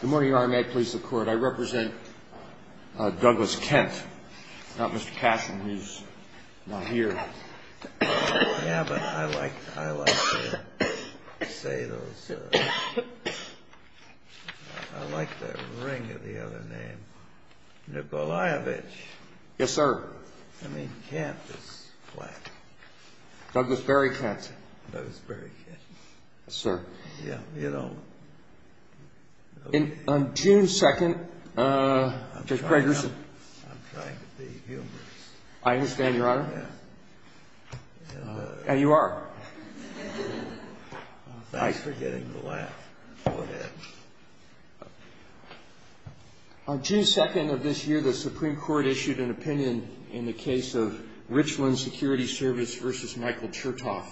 Good morning, Your Honor. May it please the Court, I represent Douglas Kent, not Mr. Cashman, who's not here. Yeah, but I like to say those. I like the ring of the other name. Nikolayevich. Yes, sir. I mean, Kent is flat. Douglas Barry Kent. Douglas Barry Kent. Yes, sir. Yeah, you know. On June 2nd, Judge Craigerson. I'm trying to be humorous. I understand, Your Honor. Yes. Thanks for getting the laugh. Go ahead. On June 2nd of this year, the Supreme Court issued an opinion in the case of Richland Security Service v. Michael Chertoff,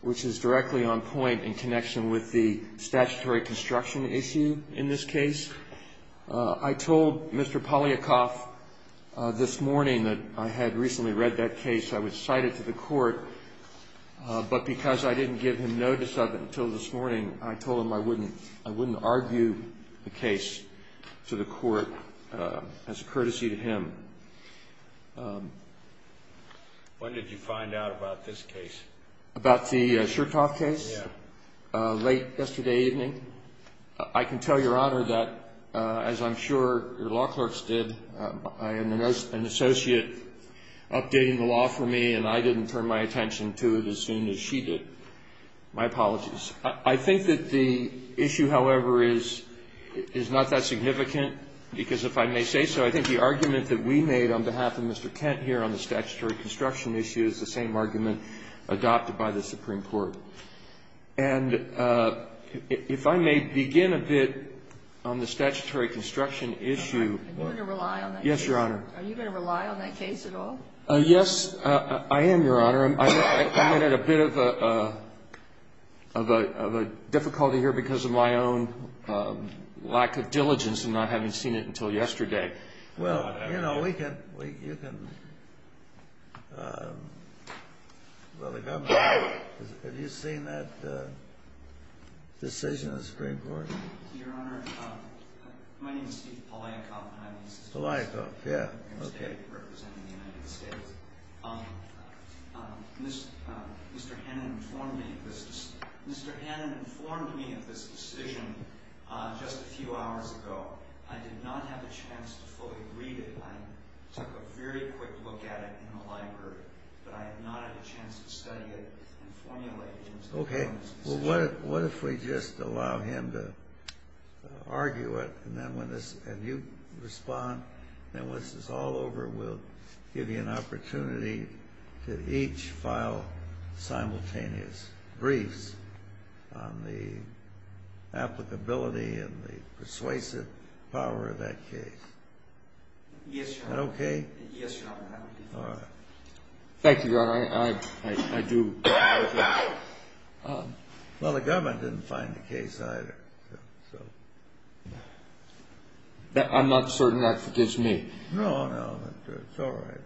which is directly on point in connection with the statutory construction issue in this case. I told Mr. Polyakov this morning that I had recently read that case. I would cite it to the Court. But because I didn't give him notice of it until this morning, I told him I wouldn't argue the case to the Court as a courtesy to him. When did you find out about this case? About the Chertoff case? Yeah. Late yesterday evening. I can tell Your Honor that, as I'm sure your law clerks did, I had an associate updating the law for me, and I didn't turn my attention to it as soon as she did. My apologies. I think that the issue, however, is not that significant, because if I may say so, I think the argument that we made on behalf of Mr. Kent here on the statutory construction issue is the same argument adopted by the Supreme Court. And if I may begin a bit on the statutory construction issue. Are you going to rely on that case? Yes, Your Honor. Are you going to rely on that case at all? Yes, I am, Your Honor. I'm at a bit of a difficulty here because of my own lack of diligence and not having seen it until yesterday. Well, you know, we can, well, the government, have you seen that decision of the Supreme Court? Your Honor, my name is Steve Poliakoff. Poliakoff, yeah, okay. I'm representing the United States. Mr. Hannon informed me of this decision just a few hours ago. I did not have a chance to fully read it. I took a very quick look at it in the library, but I have not had a chance to study it and formulate it. Okay, well, what if we just allow him to argue it, and then when this, and you respond, and once this is all over, we'll give you an opportunity to each file simultaneous briefs on the applicability and the persuasive power of that case. Yes, Your Honor. Is that okay? Yes, Your Honor. All right. Thank you, Your Honor. I do agree. Well, the government didn't find the case either, so. I'm not certain that forgives me. No, no, it's all right.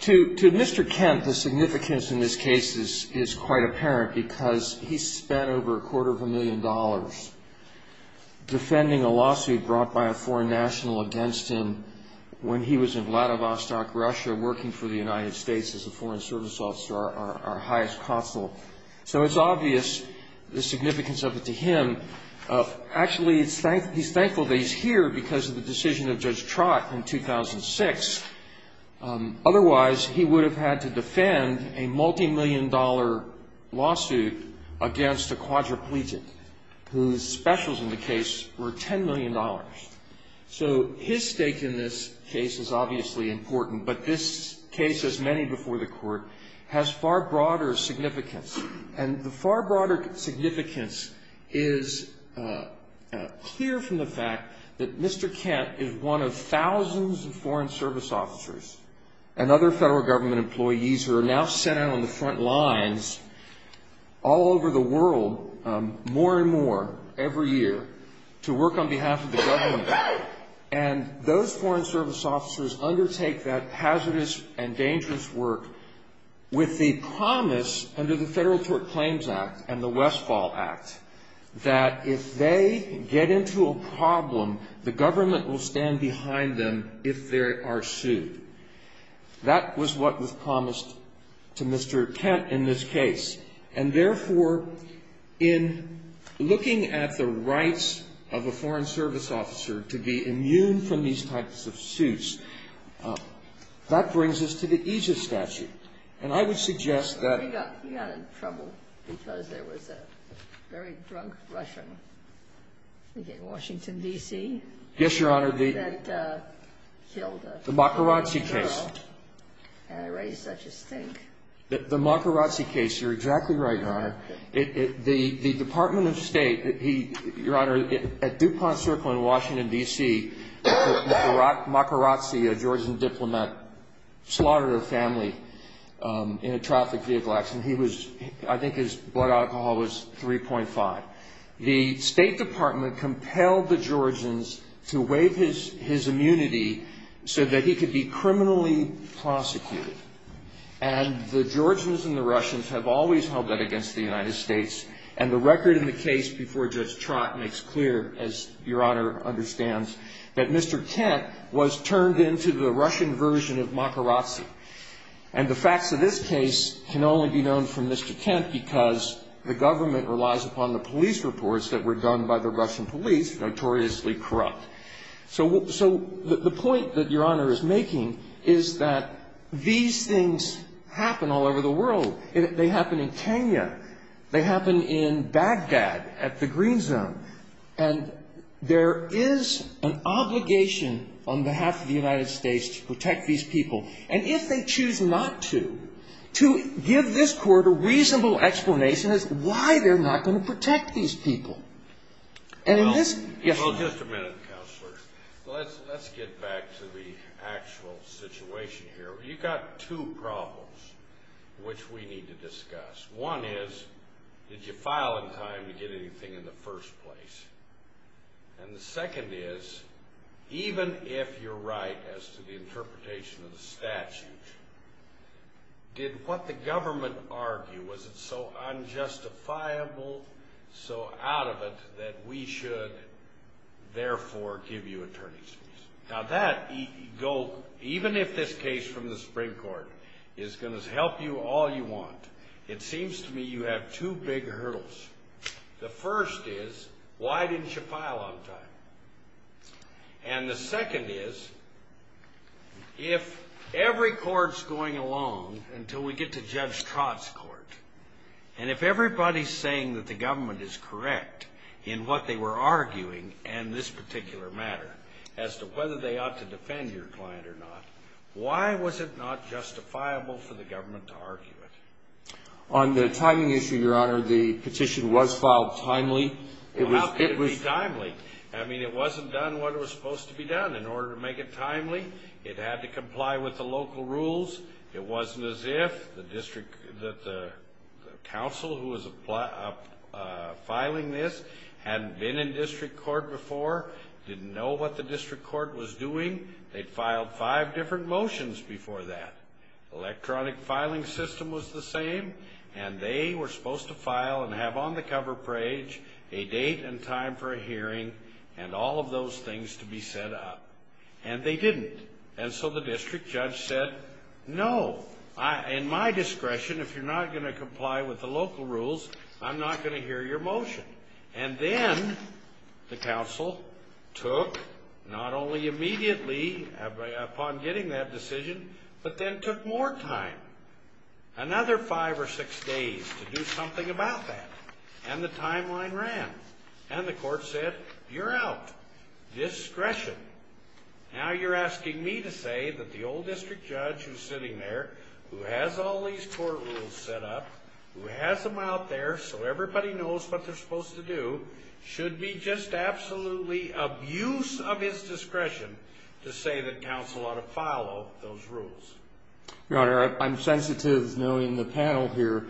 To Mr. Kent, the significance in this case is quite apparent, because he spent over a quarter of a million dollars defending a lawsuit brought by a foreign national against him when he was in Vladivostok, Russia, working for the United States as a foreign service officer, our highest consul. So it's obvious the significance of it to him. Actually, he's thankful that he's here because of the decision of Judge Trott in 2006. Otherwise, he would have had to defend a multimillion-dollar lawsuit against a quadriplegic whose specials in the case were $10 million. So his stake in this case is obviously important, but this case, as many before the Court, has far broader significance. And the far broader significance is clear from the fact that Mr. Kent is one of thousands of foreign service officers and other federal government employees who are now sent out on the front lines all over the world more and more every year to work on behalf of the government. And those foreign service officers undertake that hazardous and dangerous work with the promise, under the Federal Tort Claims Act and the Westfall Act, that if they get into a problem, the government will stand behind them if they are sued. That was what was promised to Mr. Kent in this case. And therefore, in looking at the rights of a foreign service officer to be immune from these types of suits, that brings us to the EJIS statute. And I would suggest that the Macarazzi case. The Macarazzi case, you're exactly right, Your Honor. The Department of State, Your Honor, at DuPont Circle in Washington, D.C., Macarazzi, a Georgian diplomat, slaughtered a family in a traffic vehicle accident. I think his blood alcohol was 3.5. The State Department compelled the Georgians to waive his immunity so that he could be criminally prosecuted. And the Georgians and the Russians have always held that against the United States. And the record in the case before Judge Trott makes clear, as Your Honor understands, that Mr. Kent was turned into the Russian version of Macarazzi. And the facts of this case can only be known from Mr. Kent because the government relies upon the police reports that were done by the Russian police, notoriously corrupt. So the point that Your Honor is making is that these things happen all over the world. They happen in Kenya. They happen in Baghdad at the Green Zone. And there is an obligation on behalf of the United States to protect these people. And if they choose not to, to give this Court a reasonable explanation as to why they're not going to protect these people. Well, just a minute, Counselor. Let's get back to the actual situation here. You've got two problems which we need to discuss. One is, did you file in time to get anything in the first place? And the second is, even if you're right as to the interpretation of the statute, did what the government argue, was it so unjustifiable, so out of it, that we should therefore give you attorney's fees? Now that, even if this case from the Supreme Court is going to help you all you want, it seems to me you have two big hurdles. The first is, why didn't you file on time? And the second is, if every court's going along until we get to Judge Trott's court, and if everybody's saying that the government is correct in what they were arguing in this particular matter, as to whether they ought to defend your client or not, why was it not justifiable for the government to argue it? On the timing issue, Your Honor, the petition was filed timely. Well, how could it be timely? I mean, it wasn't done what it was supposed to be done. In order to make it timely, it had to comply with the local rules. It wasn't as if the council who was filing this hadn't been in district court before, didn't know what the district court was doing. They'd filed five different motions before that. Electronic filing system was the same, and they were supposed to file and have on the cover page a date and time for a hearing and all of those things to be set up. And they didn't. And so the district judge said, No, in my discretion, if you're not going to comply with the local rules, I'm not going to hear your motion. And then the council took, not only immediately upon getting that decision, but then took more time. Another five or six days to do something about that. And the timeline ran. And the court said, You're out. Discretion. Now you're asking me to say that the old district judge who's sitting there, who has all these court rules set up, who has them out there so everybody knows what they're supposed to do, should be just absolutely abuse of his discretion to say that council ought to follow those rules. Your Honor, I'm sensitive, knowing the panel here,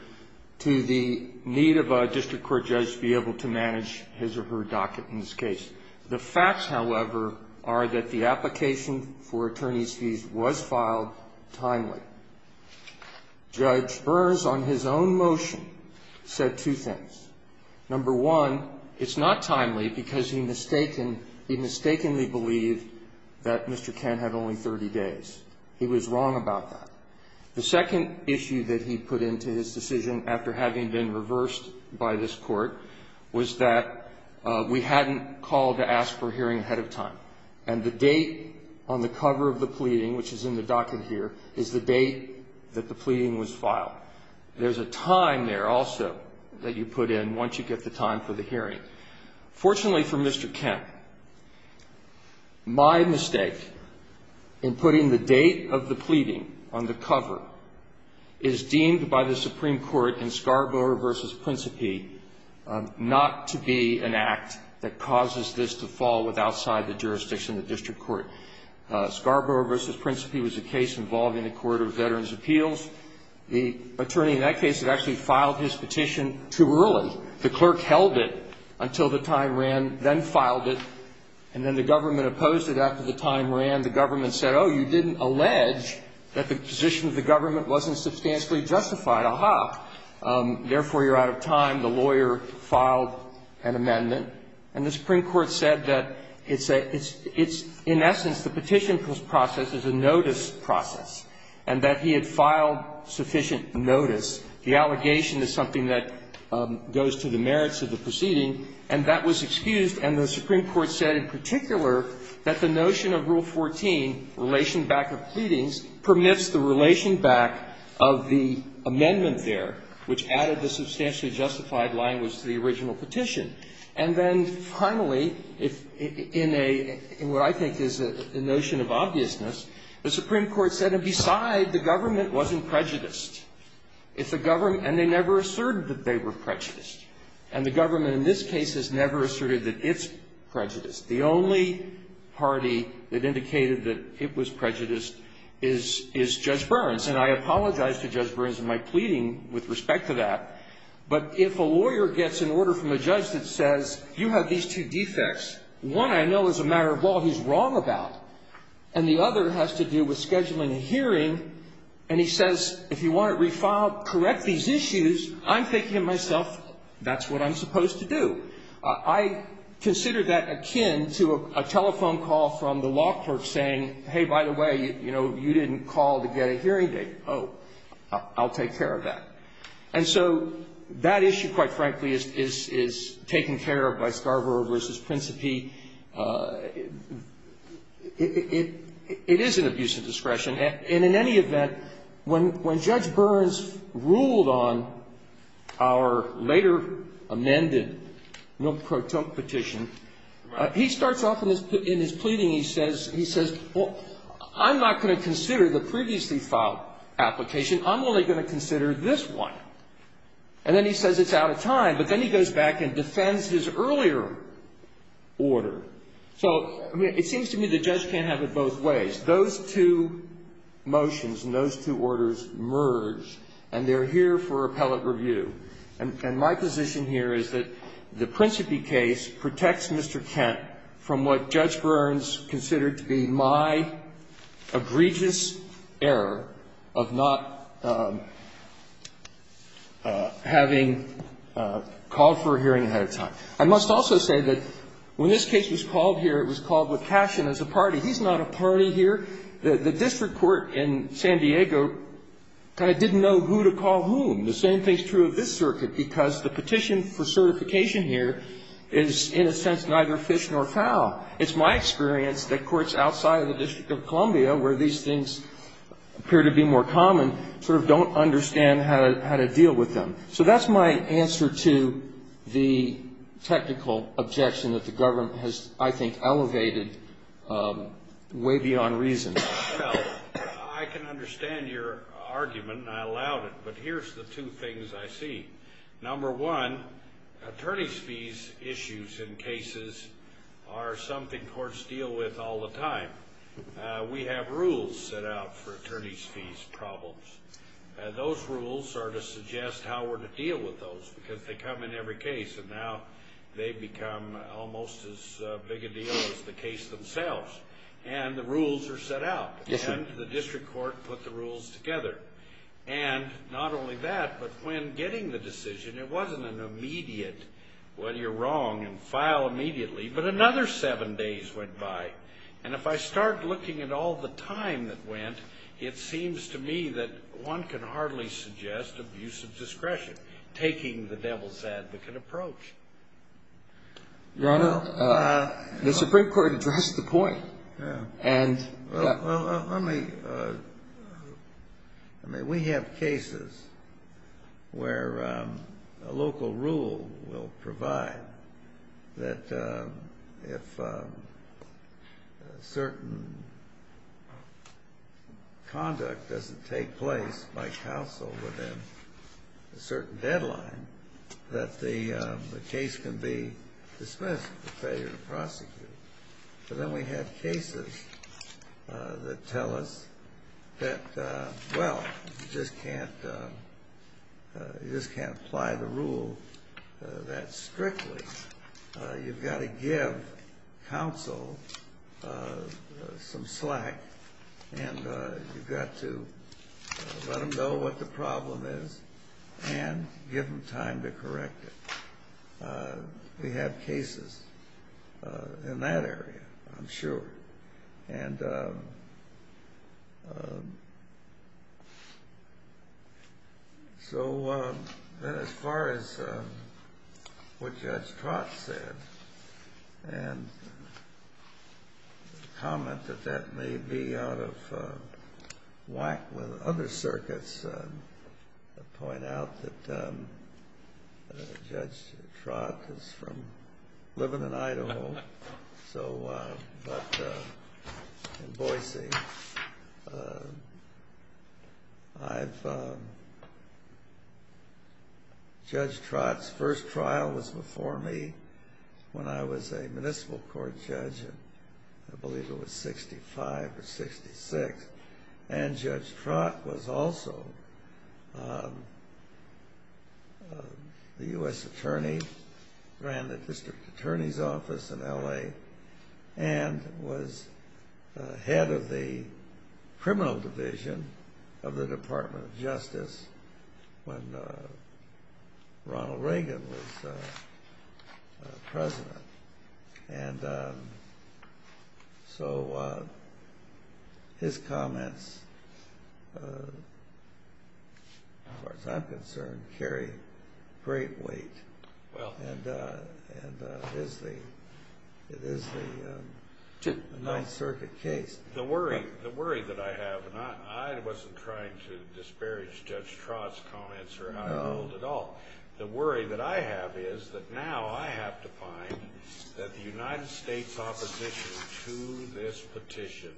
to the need of a district court judge to be able to manage his or her docket in this case. The facts, however, are that the application for attorney's fees was filed timely. Judge Burrs, on his own motion, said two things. Number one, it's not timely because he mistakenly believed that Mr. Kent had only 30 days. He was wrong about that. The second issue that he put into his decision after having been reversed by this court was that we hadn't called to ask for a hearing ahead of time. And the date on the cover of the pleading, which is in the docket here, is the date that the pleading was filed. There's a time there also that you put in once you get the time for the hearing. Fortunately for Mr. Kent, my mistake in putting the date of the pleading on the cover is deemed by the Supreme Court in Scarborough v. Principi not to be an act that causes this to fall with outside the jurisdiction of the district court. Scarborough v. Principi was a case involving the Court of Veterans' Appeals. The attorney in that case had actually filed his petition too early. The clerk held it until the time ran, then filed it. And then the government opposed it after the time ran. The government said, oh, you didn't allege that the position of the government wasn't substantially justified. Aha. Therefore, you're out of time. The lawyer filed an amendment. And the Supreme Court said that it's, in essence, the petition process is a notice process and that he had filed sufficient notice. The allegation is something that goes to the merits of the proceeding. And that was excused. And the Supreme Court said in particular that the notion of Rule 14, relation back of pleadings, permits the relation back of the amendment there, which added the substantially justified language to the original petition. And then finally, in a, in what I think is a notion of obviousness, the Supreme Court said, and beside, the government wasn't prejudiced. It's the government, and they never asserted that they were prejudiced. And the government in this case has never asserted that it's prejudiced. The only party that indicated that it was prejudiced is, is Judge Burns. And I apologize to Judge Burns in my pleading with respect to that. But if a lawyer gets an order from a judge that says, you have these two defects, one I know is a matter of law he's wrong about, and the other has to do with scheduling a hearing, and he says, if you want it refiled, correct these issues, I'm thinking to myself, that's what I'm supposed to do. I consider that akin to a telephone call from the law clerk saying, hey, by the way, you know, you didn't call to get a hearing date. Oh, I'll take care of that. And so that issue, quite frankly, is, is taken care of by Scarborough v. Principe. It, it, it is an abuse of discretion. And in any event, when, when Judge Burns ruled on our later amended Milk Pro Tonk petition, he starts off in his, in his pleading, he says, he says, well, I'm not going to consider the previously filed application. I'm only going to consider this one. And then he says it's out of time, but then he goes back and defends his earlier order. So, I mean, it seems to me the judge can't have it both ways. Those two motions and those two orders merge, and they're here for appellate review. And, and my position here is that the Principe case protects Mr. Kent from what Judge Burns said. It protects him from having called for a hearing ahead of time. I must also say that when this case was called here, it was called with passion as a party. He's not a party here. The, the district court in San Diego kind of didn't know who to call whom. The same thing is true of this circuit, because the petition for certification here is, in a sense, neither fish nor fowl. It's my experience that courts outside of the District of Columbia, where these things appear to be more common, sort of don't understand how to, how to deal with them. So, that's my answer to the technical objection that the government has, I think, elevated way beyond reason. Well, I can understand your argument, and I allowed it, but here's the two things I see. Number one, attorney's fees issues in cases are something courts deal with all the time. We have rules set out for attorney's fees problems. Those rules are to suggest how we're to deal with those, because they come in every case, and now they become almost as big a deal as the case themselves. And the rules are set out. Yes, sir. And the district court put the rules together. And not only that, but when getting the decision, it wasn't an immediate, well, you're wrong, and file immediately, but another seven days went by. And if I start looking at all the time that went, it seems to me that one can hardly suggest abuse of discretion, taking the devil's advocate approach. Your Honor, the Supreme Court addressed the point. Well, let me. I mean, we have cases where a local rule will provide that if certain conduct doesn't take place by counsel within a certain deadline, that the case can be dismissed for failure to prosecute. But then we have cases that tell us that, well, you just can't apply the rule that strictly. You've got to give counsel some slack, and you've got to let them know what the problem is and give them time to correct it. We have cases. In that area, I'm sure. And so as far as what Judge Trott said and the comment that that may be out of So in Boise, Judge Trott's first trial was before me when I was a municipal court judge, and I believe it was 65 or 66. And Judge Trott was also the U.S. attorney, ran the district attorney's office in L.A., and was head of the criminal division of the Department of Justice when Ronald Reagan was president. And so his comments, as far as I'm concerned, carry great weight. And it is the Ninth Circuit case. The worry that I have, and I wasn't trying to disparage Judge Trott's The worry that I have is that now I have to find that the United States opposition to this petition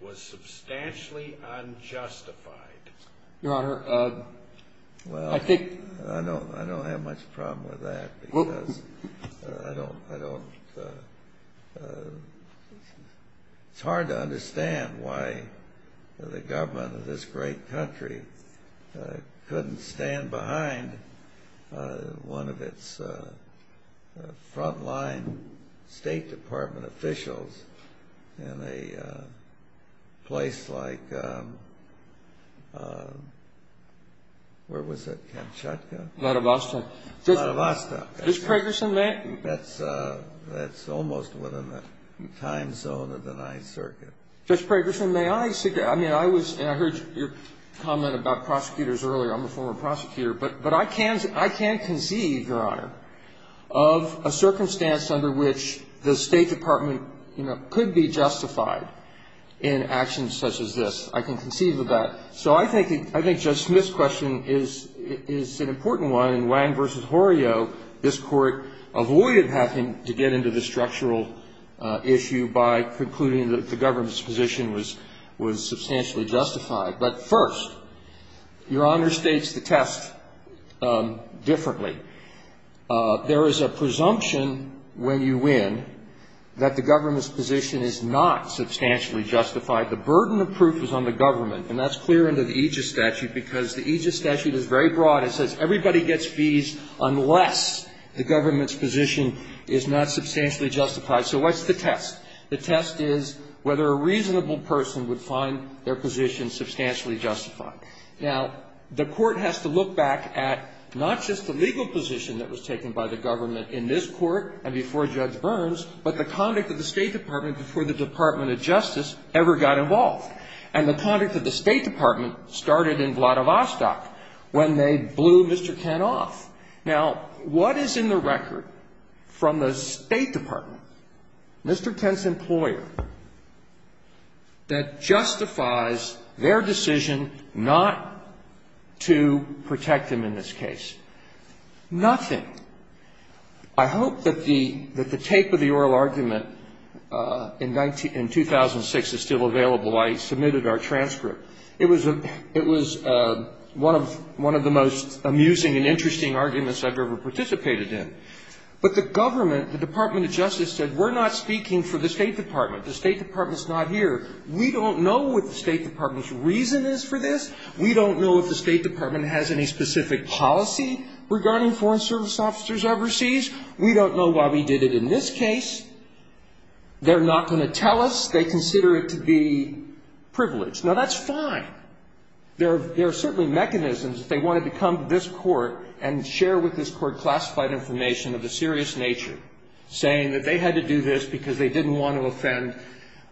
was substantially unjustified. Your Honor, I think Well, I don't have much problem with that because I don't It's hard to understand why the government of this great country couldn't stand behind one of its front-line State Department officials in a place like, where was it, Kamchatka? Vladivostok. Vladivostok. Judge Pregerson met? That's almost within the time zone of the Ninth Circuit. Judge Pregerson, may I suggest, I mean, I heard your comment about prosecutors earlier. I'm a former prosecutor. But I can conceive, Your Honor, of a circumstance under which the State Department could be justified in actions such as this. I can conceive of that. So I think Judge Smith's question is an important one. In Wang v. Horio, this Court avoided having to get into the structural issue by concluding that the government's position was substantially justified. But first, Your Honor states the test differently. There is a presumption when you win that the government's position is not substantially justified. The burden of proof is on the government, and that's clear under the Aegis statute because the Aegis statute is very broad. It says everybody gets fees unless the government's position is not substantially justified. So what's the test? The test is whether a reasonable person would find their position substantially justified. Now, the Court has to look back at not just the legal position that was taken by the government in this Court and before Judge Burns, but the conduct of the State Department before the Department of Justice ever got involved. And the conduct of the State Department started in Vladivostok when they blew Mr. Kent off. Now, what is in the record from the State Department, Mr. Kent's employer, that justifies their decision not to protect him in this case? Nothing. I hope that the tape of the oral argument in 2006 is still available. I submitted our transcript. It was one of the most amusing and interesting arguments I've ever participated in. But the government, the Department of Justice, said we're not speaking for the State Department. The State Department's not here. We don't know what the State Department's reason is for this. We don't know if the State Department has any specific policy regarding Foreign Service Officers overseas. We don't know why we did it in this case. They're not going to tell us. They consider it to be privileged. Now, that's fine. There are certainly mechanisms if they wanted to come to this court and share with this court classified information of a serious nature, saying that they had to do this because they didn't want to offend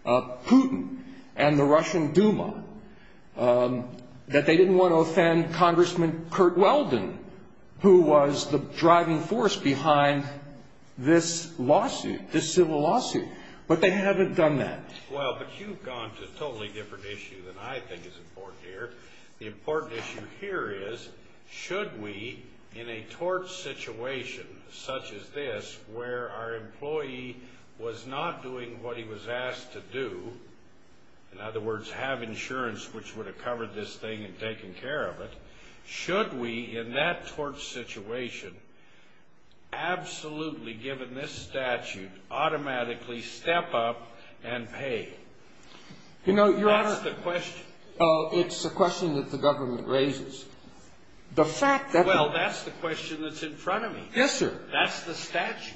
Putin and the Russian Duma, that they didn't want to offend Congressman Kurt Weldon, who was the driving force behind this lawsuit, this civil lawsuit. But they haven't done that. Well, but you've gone to a totally different issue than I think is important here. The important issue here is, should we, in a torch situation such as this, where our employee was not doing what he was asked to do, in other words, have insurance which would have covered this thing and taken care of it, should we, in that torch situation, absolutely, given this statute, automatically step up and pay? You know, Your Honor, That's the question. It's a question that the government raises. The fact that Well, that's the question that's in front of me. Yes, sir. That's the statute.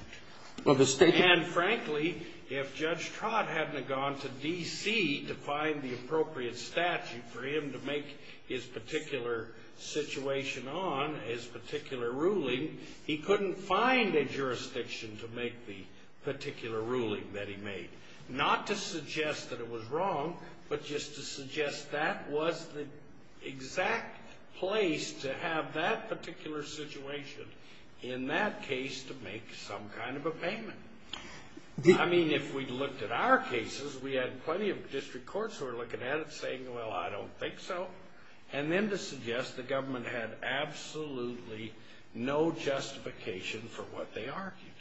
Well, the statute And, frankly, if Judge Trott hadn't have gone to D.C. to find the appropriate statute for him to make his particular situation on, his particular ruling, he couldn't find a jurisdiction to make the particular ruling that he made. Not to suggest that it was wrong, but just to suggest that was the exact place to have that particular situation in that case to make some kind of a payment. I mean, if we looked at our cases, we had plenty of district courts who were looking at it saying, well, I don't think so, and then to suggest the government had absolutely no justification for what they argued.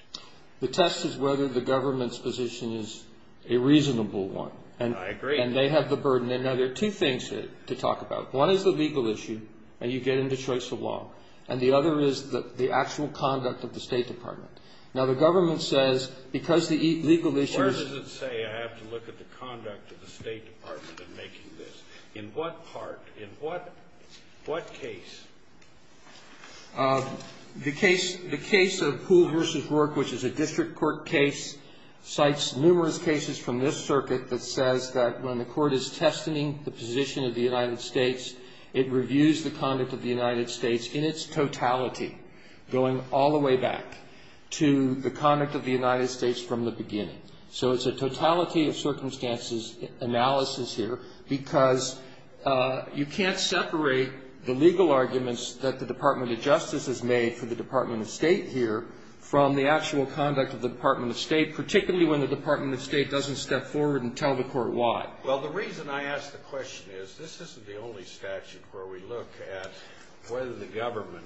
The test is whether the government's position is a reasonable one. I agree. And they have the burden. Now, there are two things to talk about. One is the legal issue, and you get into choice of law. And the other is the actual conduct of the State Department. Now, the government says, because the legal issue I have to look at the conduct of the State Department in making this. In what part, in what case? The case of Poole v. Rourke, which is a district court case, cites numerous cases from this circuit that says that when the court is testing the position of the United States, it reviews the conduct of the United States in its totality, going all the way back to the So it's a totality of circumstances analysis here because you can't separate the legal arguments that the Department of Justice has made for the Department of State here from the actual conduct of the Department of State, particularly when the Department of State doesn't step forward and tell the court why. Well, the reason I ask the question is this isn't the only statute where we look at whether the government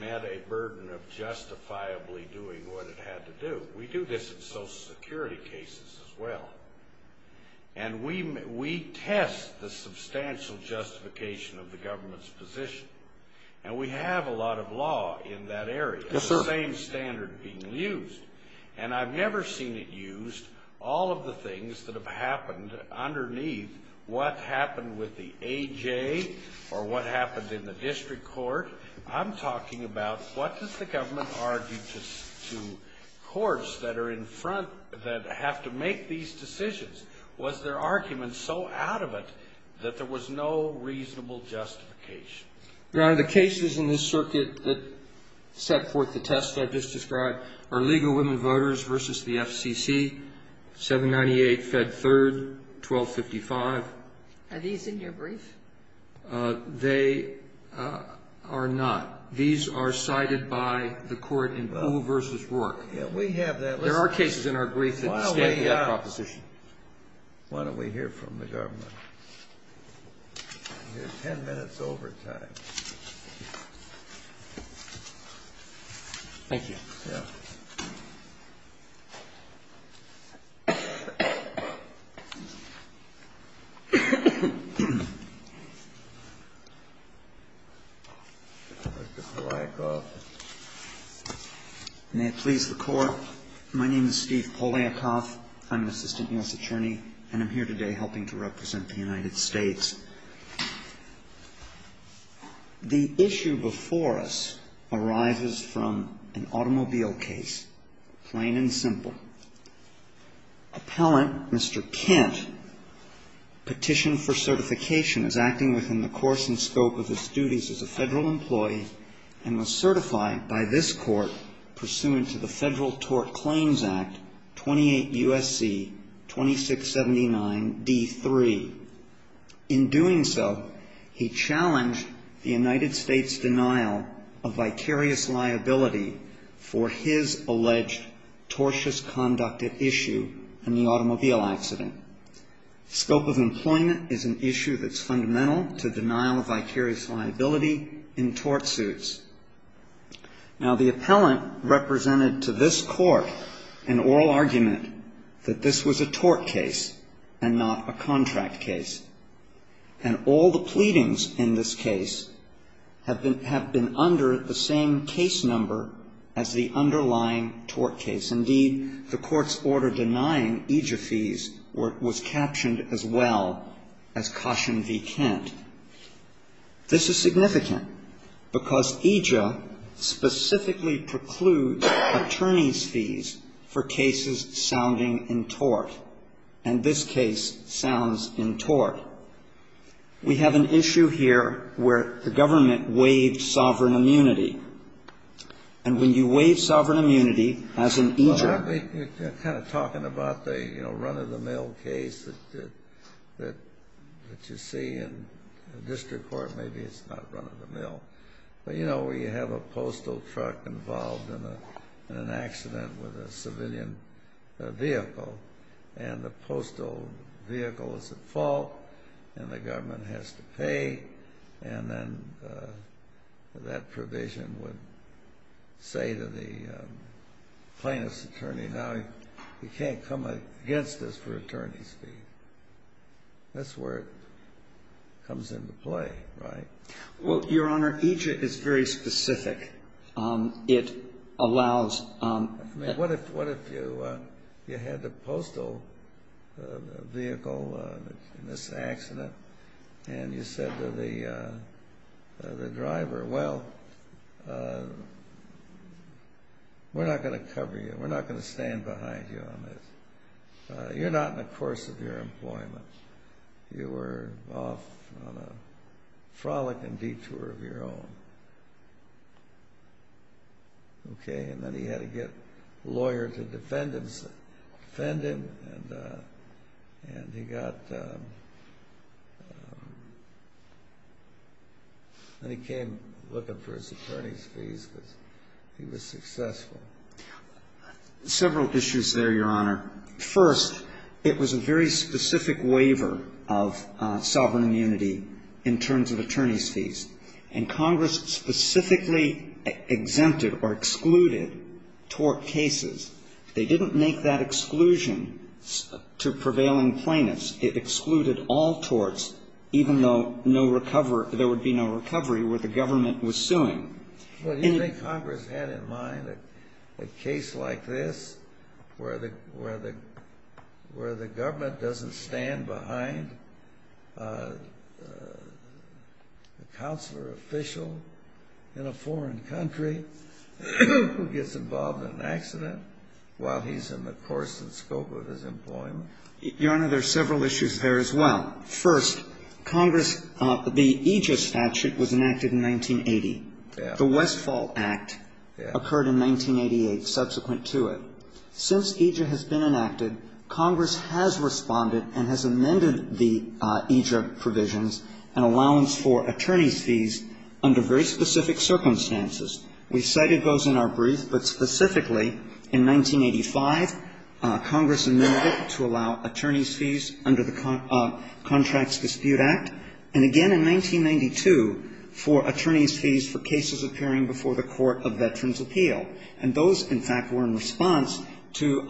met a burden of justifiably doing what it had to do. We do this in Social Security cases as well. And we test the substantial justification of the government's position. And we have a lot of law in that area. Yes, sir. The same standard being used. And I've never seen it used, all of the things that have happened underneath what happened with the AJ or what happened in the district court. I'm talking about what does the government argue to courts that are in front, that have to make these decisions? Was their argument so out of it that there was no reasonable justification? Your Honor, the cases in this circuit that set forth the test I've just described are legal women voters versus the FCC, 798, Fed Third, 1255. Are these in your brief? They are not. These are cited by the court in Poole versus Rourke. Yeah, we have that. There are cases in our brief that stand for that proposition. Why don't we hear from the government? We have 10 minutes overtime. Thank you. Yeah. Mr. Poliakoff. May it please the Court. My name is Steve Poliakoff. I'm an assistant U.S. attorney, and I'm here today helping to represent the United States. The issue before us arises from an automobile case, plain and simple. Appellant, Mr. Kent, petitioned for certification, is acting within the course and scope of his duties as a federal employee and was certified by this court pursuant to the Federal Tort Claims Act, 28 U.S.C. 2679 D3. In doing so, he challenged the United States' denial of vicarious liability for his alleged tortious conduct at issue in the automobile accident. Scope of employment is an issue that's fundamental to denial of vicarious liability in tort suits. Now, the appellant represented to this court an oral argument that this was a tort case and not a contract case. And all the pleadings in this case have been under the same case number as the underlying tort case. Indeed, the court's order denying EJIA fees was captioned as well as Caution v. Kent. This is significant because EJIA specifically precludes attorney's fees for cases sounding in tort, and this case sounds in tort. We have an issue here where the government waived sovereign immunity. And when you waive sovereign immunity as an EJIA ---- You're kind of talking about the, you know, run-of-the-mill case that you see in district court. Maybe it's not run-of-the-mill. But, you know, where you have a postal truck involved in an accident with a civilian vehicle, and the postal vehicle is at fault and the government has to pay for it, the government would say to the plaintiff's attorney, now you can't come against this for attorney's fees. That's where it comes into play, right? Well, Your Honor, EJIA is very specific. It allows ---- I mean, what if you had the postal vehicle in this accident and you said to the plaintiff, we're not going to cover you. We're not going to stand behind you on this. You're not in the course of your employment. You are off on a frolic and detour of your own. Okay? And then he had to get lawyers and defendants to defend him, and he got ---- And he came looking for his attorney's fees because he was successful. Several issues there, Your Honor. First, it was a very specific waiver of sovereign immunity in terms of attorney's fees, and Congress specifically exempted or excluded tort cases. They didn't make that exclusion to prevailing plaintiffs. It excluded all torts, even though there would be no recovery where the government was suing. But you think Congress had in mind a case like this where the government doesn't stand behind a counselor official in a foreign country who gets involved in an accident while he's in the course and scope of his employment? Your Honor, there are several issues there as well. First, Congress ---- the EJIA statute was enacted in 1980. The Westfall Act occurred in 1988 subsequent to it. Since EJIA has been enacted, Congress has responded and has amended the EJIA provisions and allowance for attorney's fees under very specific circumstances. We cited those in our brief, but specifically in 1985, Congress amended it to allow attorney's fees under the Contracts Dispute Act, and again in 1992 for attorney's fees for cases appearing before the Court of Veterans' Appeal. And those, in fact, were in response to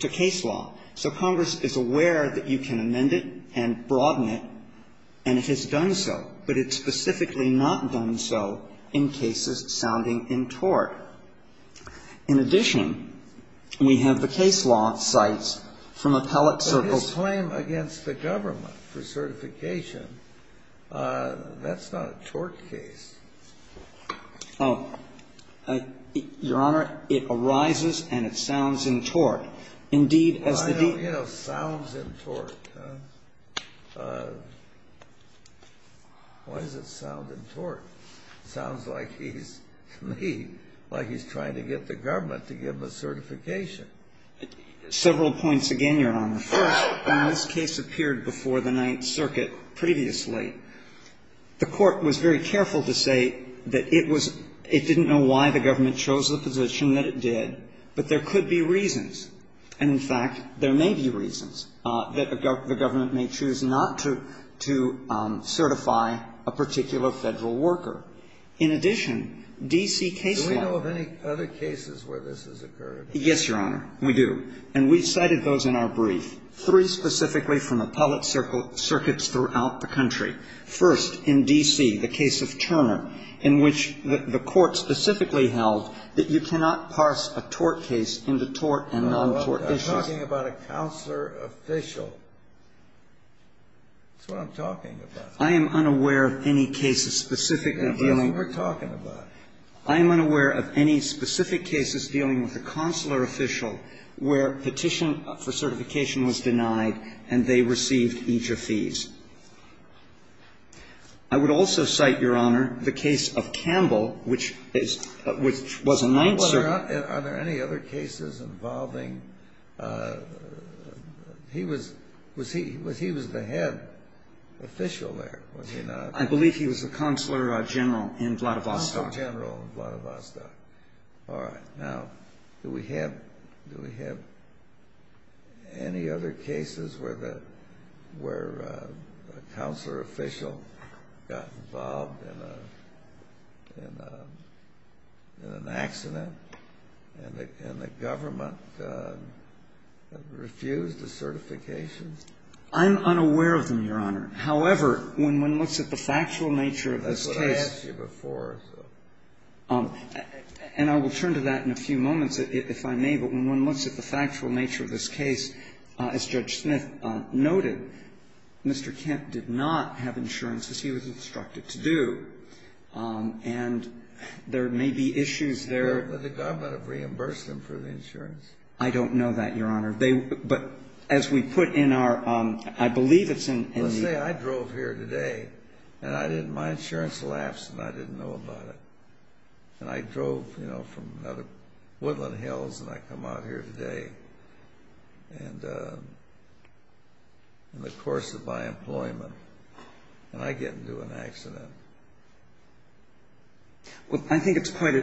case law. So Congress is aware that you can amend it and broaden it, and it has done so, but it's specifically not done so in cases sounding in tort. In addition, we have the case law cited from appellate circles. But his claim against the government for certification, that's not a tort case. Oh. Your Honor, it arises and it sounds in tort. Indeed, as the deed ---- Why don't you know sounds in tort? Why does it sound in tort? Sounds like he's trying to get the government to give him a certification. Several points again, Your Honor. First, when this case appeared before the Ninth Circuit previously, the Court was very careful to say that it was ---- it didn't know why the government chose the position that it did, but there could be reasons. And, in fact, there may be reasons that the government may choose not to certify a particular Federal worker. In addition, D.C. case law ---- Do we know of any other cases where this has occurred? Yes, Your Honor, we do. And we cited those in our brief, three specifically from appellate circuits throughout the country. First, in D.C., the case of Turner, in which the Court specifically held that you cannot parse a tort case into tort and non-tort issues. No, I'm talking about a counselor official. That's what I'm talking about. I am unaware of any cases specifically dealing ---- That's what we're talking about. I am unaware of any specific cases dealing with a counselor official where petition for certification was denied and they received EJIA fees. I would also cite, Your Honor, the case of Campbell, which is ---- which was a Ninth Circuit ---- Are there any other cases involving ---- he was the head official there. Was he not? I believe he was the Counselor General in Vladivostok. Counselor General in Vladivostok. All right. Now, do we have any other cases where a counselor official got involved in an accident and the government refused a certification? I'm unaware of them, Your Honor. However, when one looks at the factual nature of this case ---- That's what I asked you before. And I will turn to that in a few moments, if I may, but when one looks at the factual nature of this case, as Judge Smith noted, Mr. Kent did not have insurance, as he was instructed to do. And there may be issues there ---- But the government have reimbursed them for the insurance. I don't know that, Your Honor. They ---- but as we put in our ---- I believe it's in the ---- Well, let's say I drove here today and I didn't ---- my insurance lapsed and I didn't know about it. And I drove, you know, from the woodland hills and I come out here today and in the course of my employment and I get into an accident. Well, I think it's quite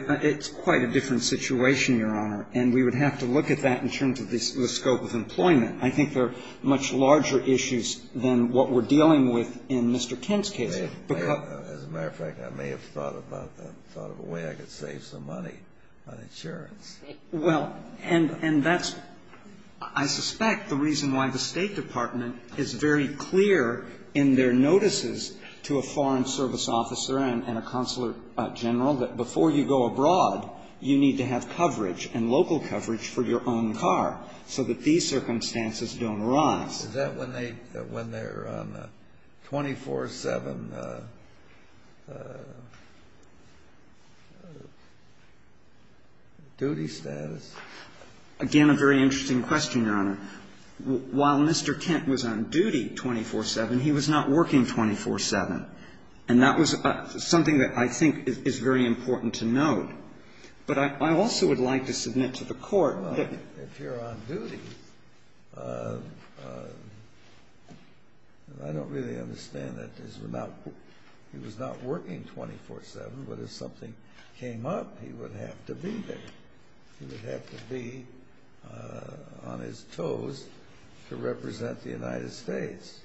a different situation, Your Honor, and we would have to look at that in terms of the scope of employment. I think there are much larger issues than what we're dealing with in Mr. Kent's case. As a matter of fact, I may have thought about that, thought of a way I could save some money on insurance. Well, and that's, I suspect, the reason why the State Department is very clear in their notices to a Foreign Service officer and a consular general that before you go abroad, you need to have coverage and local coverage for your own car so that these circumstances don't arise. Is that when they're on a 24-7 duty status? Again, a very interesting question, Your Honor. While Mr. Kent was on duty 24-7, he was not working 24-7. And that was something that I think is very important to note. But I also would like to submit to the Court that ---- I don't really understand that. He was not working 24-7, but if something came up, he would have to be there. He would have to be on his toes to represent the United States.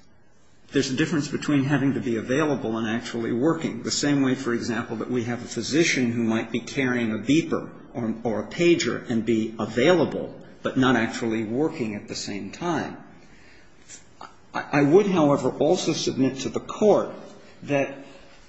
There's a difference between having to be available and actually working. The same way, for example, that we have a physician who might be carrying a beeper or a pager and be available, but not actually working at the same time. I would, however, also submit to the Court that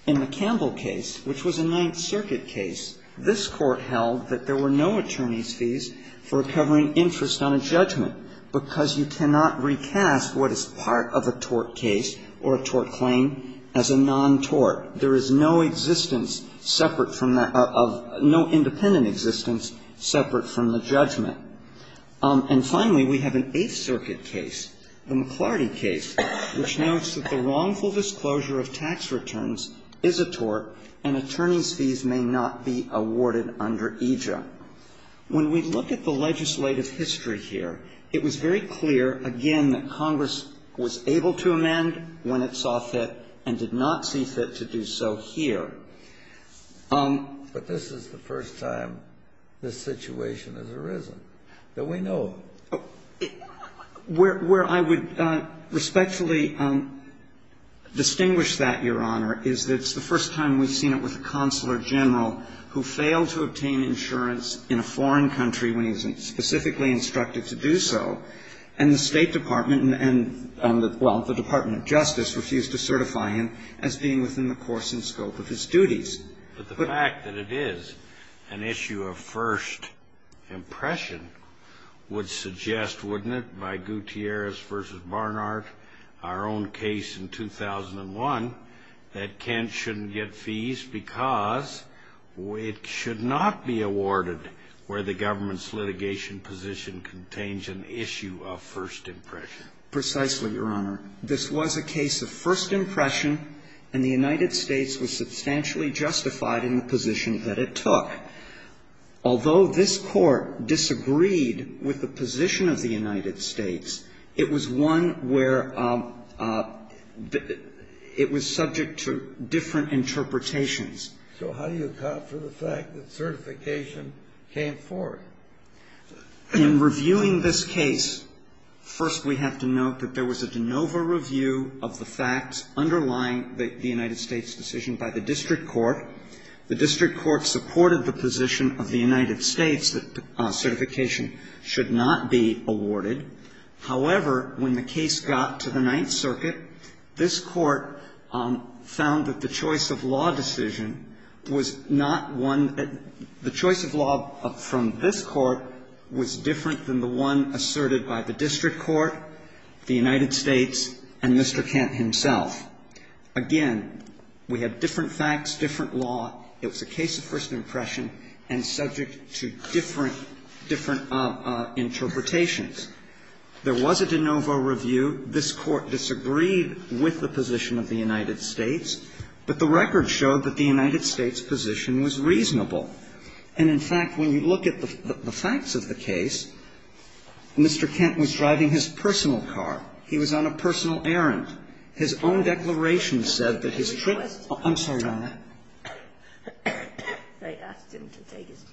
in the Campbell case, which was a Ninth Circuit case, this Court held that there were no attorney's fees for covering interest on a judgment because you cannot recast what is part of a tort case or a tort claim as a non-tort. There is no existence separate from that of ---- no independent existence separate from the judgment. And finally, we have an Eighth Circuit case, the McLarty case, which notes that the wrongful disclosure of tax returns is a tort and attorney's fees may not be awarded under AJA. When we look at the legislative history here, it was very clear, again, that Congress was able to amend when it saw fit and did not see fit to do so here. But this is the first time this situation has arisen that we know of. Where I would respectfully distinguish that, Your Honor, is that it's the first time we've seen it with a consular general who failed to obtain insurance in a foreign country when he was specifically instructed to do so, and the State Department and, well, the Department of Justice refused to certify him as being within the course and scope of his duties. But the fact that it is an issue of first impression would suggest, wouldn't it, by Gutierrez v. Barnard, our own case in 2001, that Kent shouldn't get fees because it should not be awarded where the government's litigation position contains an issue of first impression? Precisely, Your Honor. This was a case of first impression, and the United States was substantially justified in the position that it took. Although this Court disagreed with the position of the United States, it was one where it was subject to different interpretations. So how do you account for the fact that certification came forward? In reviewing this case, first we have to note that there was a de novo review of the facts underlying the United States' decision by the district court. The district court supported the position of the United States that certification should not be awarded. However, when the case got to the Ninth Circuit, this Court found that the choice of law decision was not one that the choice of law from this Court was different than the one asserted by the district court, the United States, and Mr. Kent himself. Again, we have different facts, different law. It was a case of first impression and subject to different, different interpretations. There was a de novo review. This Court disagreed with the position of the United States. But the record showed that the United States' position was reasonable. And, in fact, when you look at the facts of the case, Mr. Kent was driving his personal car. He was on a personal errand. His own declaration said that his trip to the trip to the United States was on a personal errand. I'm sorry, Your Honor. They asked him to take his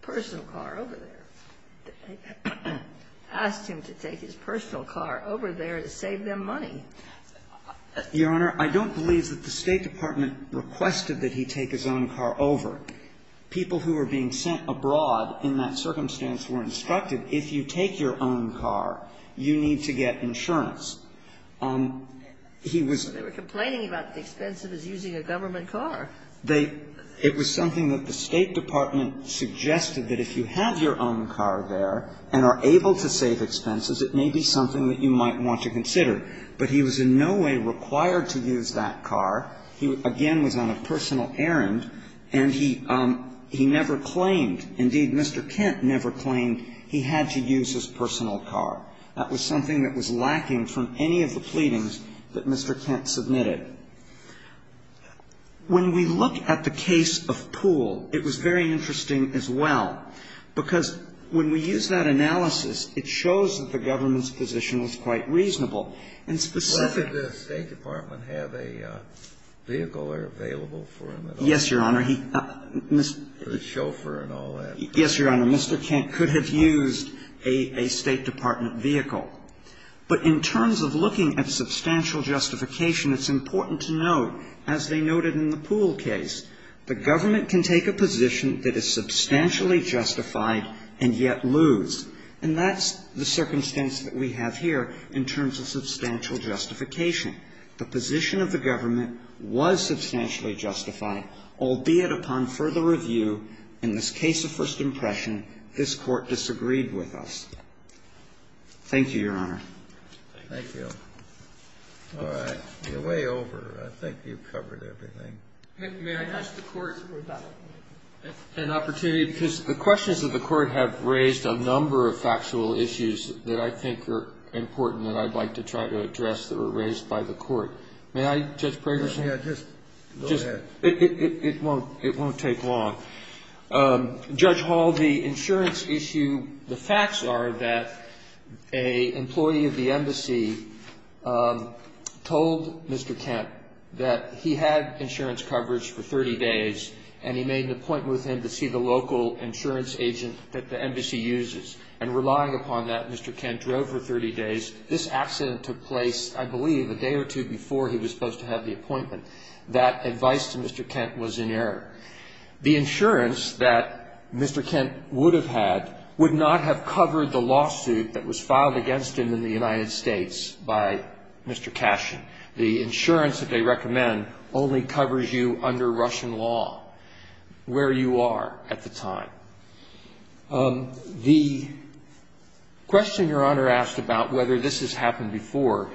personal car over there. They asked him to take his personal car over there to save them money. Your Honor, I don't believe that the State Department requested that he take his own car over. People who were being sent abroad in that circumstance were instructed, if you take your own car, you need to get insurance. He was they were complaining about the expense of his using a government car. They It was something that the State Department suggested that if you have your own car there and are able to save expenses, it may be something that you might want to consider. But he was in no way required to use that car. He, again, was on a personal errand, and he never claimed, indeed, Mr. Kent never claimed he had to use his personal car. That was something that was lacking from any of the pleadings that Mr. Kent submitted. When we look at the case of Poole, it was very interesting as well, because when we use that analysis, it shows that the government's position was quite reasonable. And specifically Well, did the State Department have a vehicle or available for him at all? Yes, Your Honor. The chauffeur and all that. Yes, Your Honor. Mr. Kent could have used a State Department vehicle. But in terms of looking at substantial justification, it's important to note, as they noted in the Poole case, the government can take a position that is substantially justified and yet lose. And that's the circumstance that we have here in terms of substantial justification. The position of the government was substantially justified, albeit upon further review. In this case of first impression, this Court disagreed with us. Thank you, Your Honor. Thank you. All right. You're way over. I think you've covered everything. May I ask the Court for that? An opportunity, because the questions of the Court have raised a number of factual issues that I think are important and I'd like to try to address that were raised by the Court. May I, Judge Prager? Yes. Go ahead. It won't take long. Judge Hall, the insurance issue, the facts are that an employee of the embassy told Mr. Kent that he had insurance coverage for 30 days and he made an appointment with him to see the local insurance agent that the embassy uses. And relying upon that, Mr. Kent drove for 30 days. This accident took place, I believe, a day or two before he was supposed to have the appointment. That advice to Mr. Kent was in error. The insurance that Mr. Kent would have had would not have covered the lawsuit that was filed against him in the United States by Mr. Cashin. The insurance that they recommend only covers you under Russian law where you are at the time. The question Your Honor asked about whether this has happened before,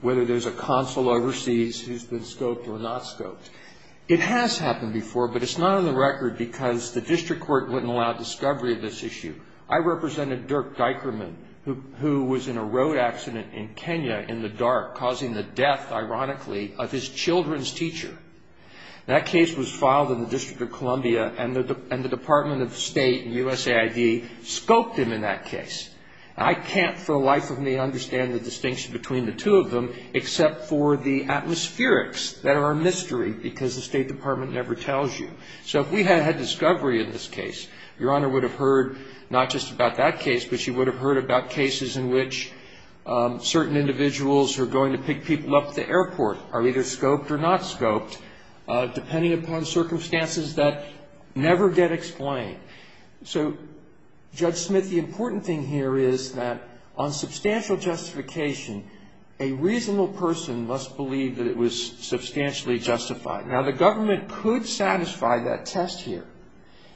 whether there's a consul overseas who's been scoped or not scoped, it has happened before, but it's not on the record because the district court wouldn't allow discovery of this issue. I represented Dirk Dikerman who was in a road accident in Kenya in the dark causing the death, ironically, of his children's teacher. That case was filed in the District of Columbia and the Department of State and USAID scoped him in that case. I can't for the life of me understand the distinction between the two of them except for the atmospherics that are a mystery because the State Department never tells you. So if we had had discovery in this case, Your Honor would have heard not just about that case, but she would have heard about cases in which certain individuals who are going to pick people up at the airport are either scoped or not scoped depending upon circumstances that never get explained. So, Judge Smith, the important thing here is that on substantial justification, a reasonable person must believe that it was substantially justified. Now, the government could satisfy that test here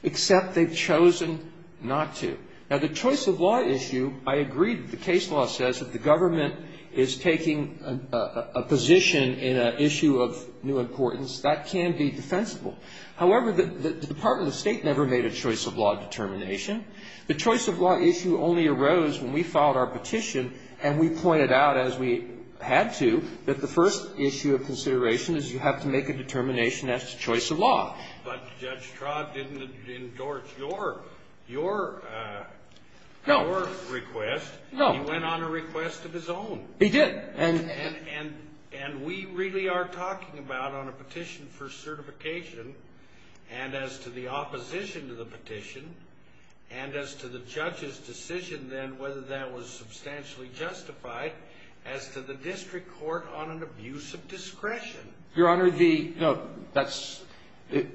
except they've chosen not to. Now, the choice of law issue, I agree that the case law says that the government is taking a position in an issue of new importance. That can be defensible. However, the Department of State never made a choice of law determination. The choice of law issue only arose when we filed our petition and we pointed out, as we had to, that the first issue of consideration is you have to make a determination as to choice of law. But Judge Trott didn't endorse your request. No. He went on a request of his own. He did. And we really are talking about on a petition for certification and as to the opposition to the petition and as to the judge's decision then whether that was substantially justified as to the district court on an abuse of discretion. Your Honor, the, no, that's, let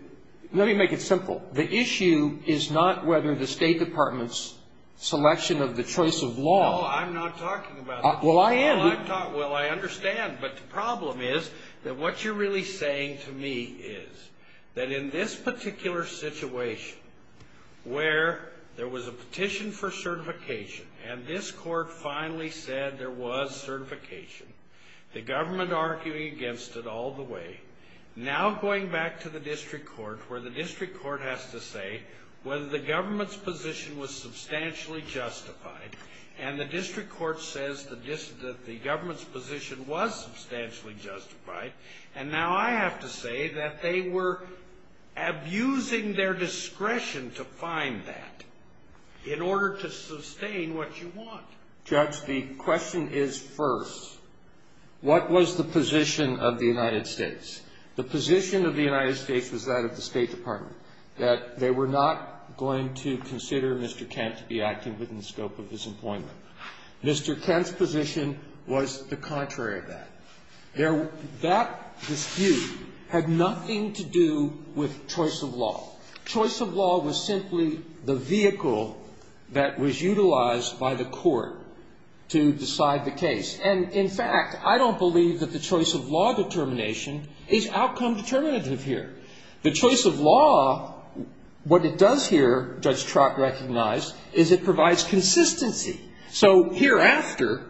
me make it simple. The issue is not whether the State Department's selection of the choice of law. No, I'm not talking about that. Well, I am. Well, I understand. But the problem is that what you're really saying to me is that in this particular situation where there was a petition for certification and this court finally said there was certification, the government arguing against it all the way, now going back to the district court where the district court has to say whether the government's position was substantially justified and the district court says that the government's position was substantially justified, and now I have to say that they were abusing their discretion to find that in order to sustain what you want. Judge, the question is first, what was the position of the United States? The position of the United States was that of the State Department, that they were not going to consider Mr. Kent to be acting within the scope of his employment. Mr. Kent's position was the contrary of that. That dispute had nothing to do with choice of law. Choice of law was simply the vehicle that was utilized by the court to decide the case. And, in fact, I don't believe that the choice of law determination is outcome determinative here. The choice of law, what it does here, Judge Trott recognized, is it provides consistency. So hereafter,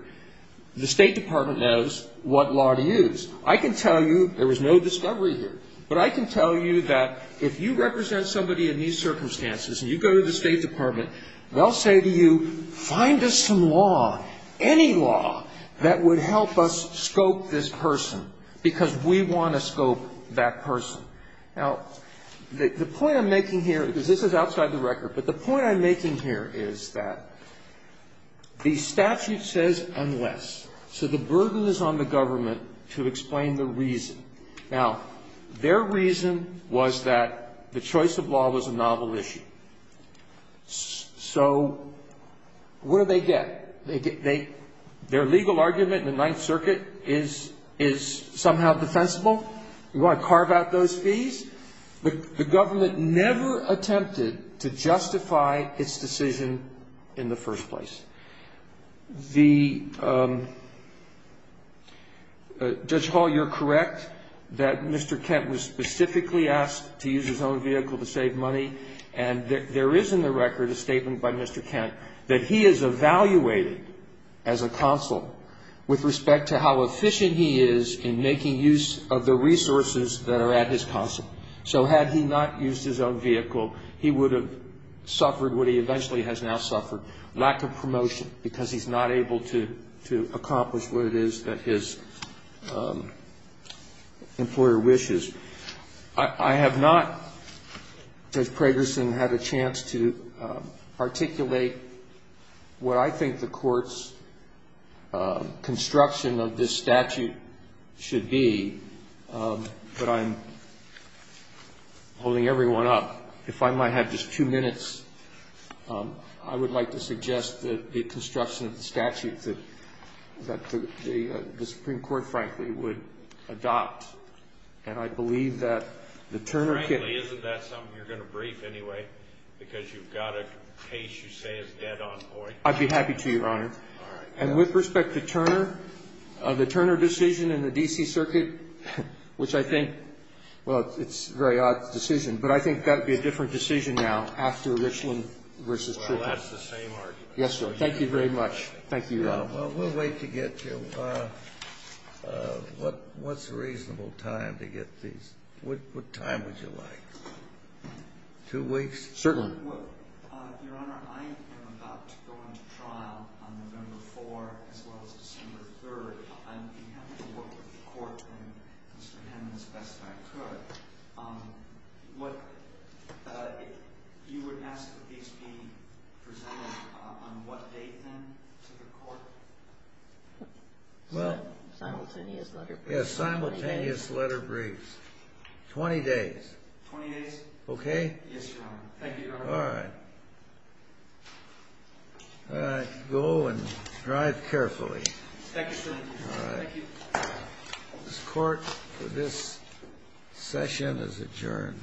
the State Department knows what law to use. I can tell you there was no discovery here, but I can tell you that if you represent somebody in these circumstances and you go to the State Department, they'll say to you, find us some law, any law, that would help us scope this person, because we want to scope that person. Now, the point I'm making here, because this is outside the record, but the point I'm making here is that the statute says unless. So the burden is on the government to explain the reason. Now, their reason was that the choice of law was a novel issue. So what do they get? Their legal argument in the Ninth Circuit is somehow defensible. You want to carve out those fees? The government never attempted to justify its decision in the first place. The — Judge Hall, you're correct that Mr. Kent was specifically asked to use his own vehicle to save money. And there is in the record a statement by Mr. Kent that he is evaluated as a consul with respect to how efficient he is in making use of the resources that are at his consul. So had he not used his own vehicle, he would have suffered what he eventually has now suffered, lack of promotion, because he's not able to accomplish what it is that his employer wishes. I have not, Judge Pragerson, had a chance to articulate what I think the Court's construction of this statute should be, but I'm holding everyone up. If I might have just two minutes, I would like to suggest that the construction of the statute that the Supreme Court, frankly, would adopt. And I believe that the Turner can — Frankly, isn't that something you're going to brief anyway, because you've got a case you say is dead on point? I'd be happy to, Your Honor. All right. And with respect to Turner, the Turner decision in the D.C. Circuit, which I think — well, it's a very odd decision, but I think that would be a different decision now after Richland v. Tripp. Well, that's the same argument. Yes, sir. Thank you very much. Thank you. Well, we'll wait to get to what's a reasonable time to get these. What time would you like? Two weeks? Certainly. Your Honor, I am about to go into trial on November 4 as well as December 3. I'm happy to work with the Court and Mr. Hammond as best I could. What — you would ask that these be presented on what date, then, to the Court? Well — Simultaneous letter briefs. Yes, simultaneous letter briefs. Twenty days. Twenty days. Okay? Yes, Your Honor. Thank you, Your Honor. All right. All right. Go and drive carefully. Thank you, sir. All right. Thank you. This Court, for this session, is adjourned.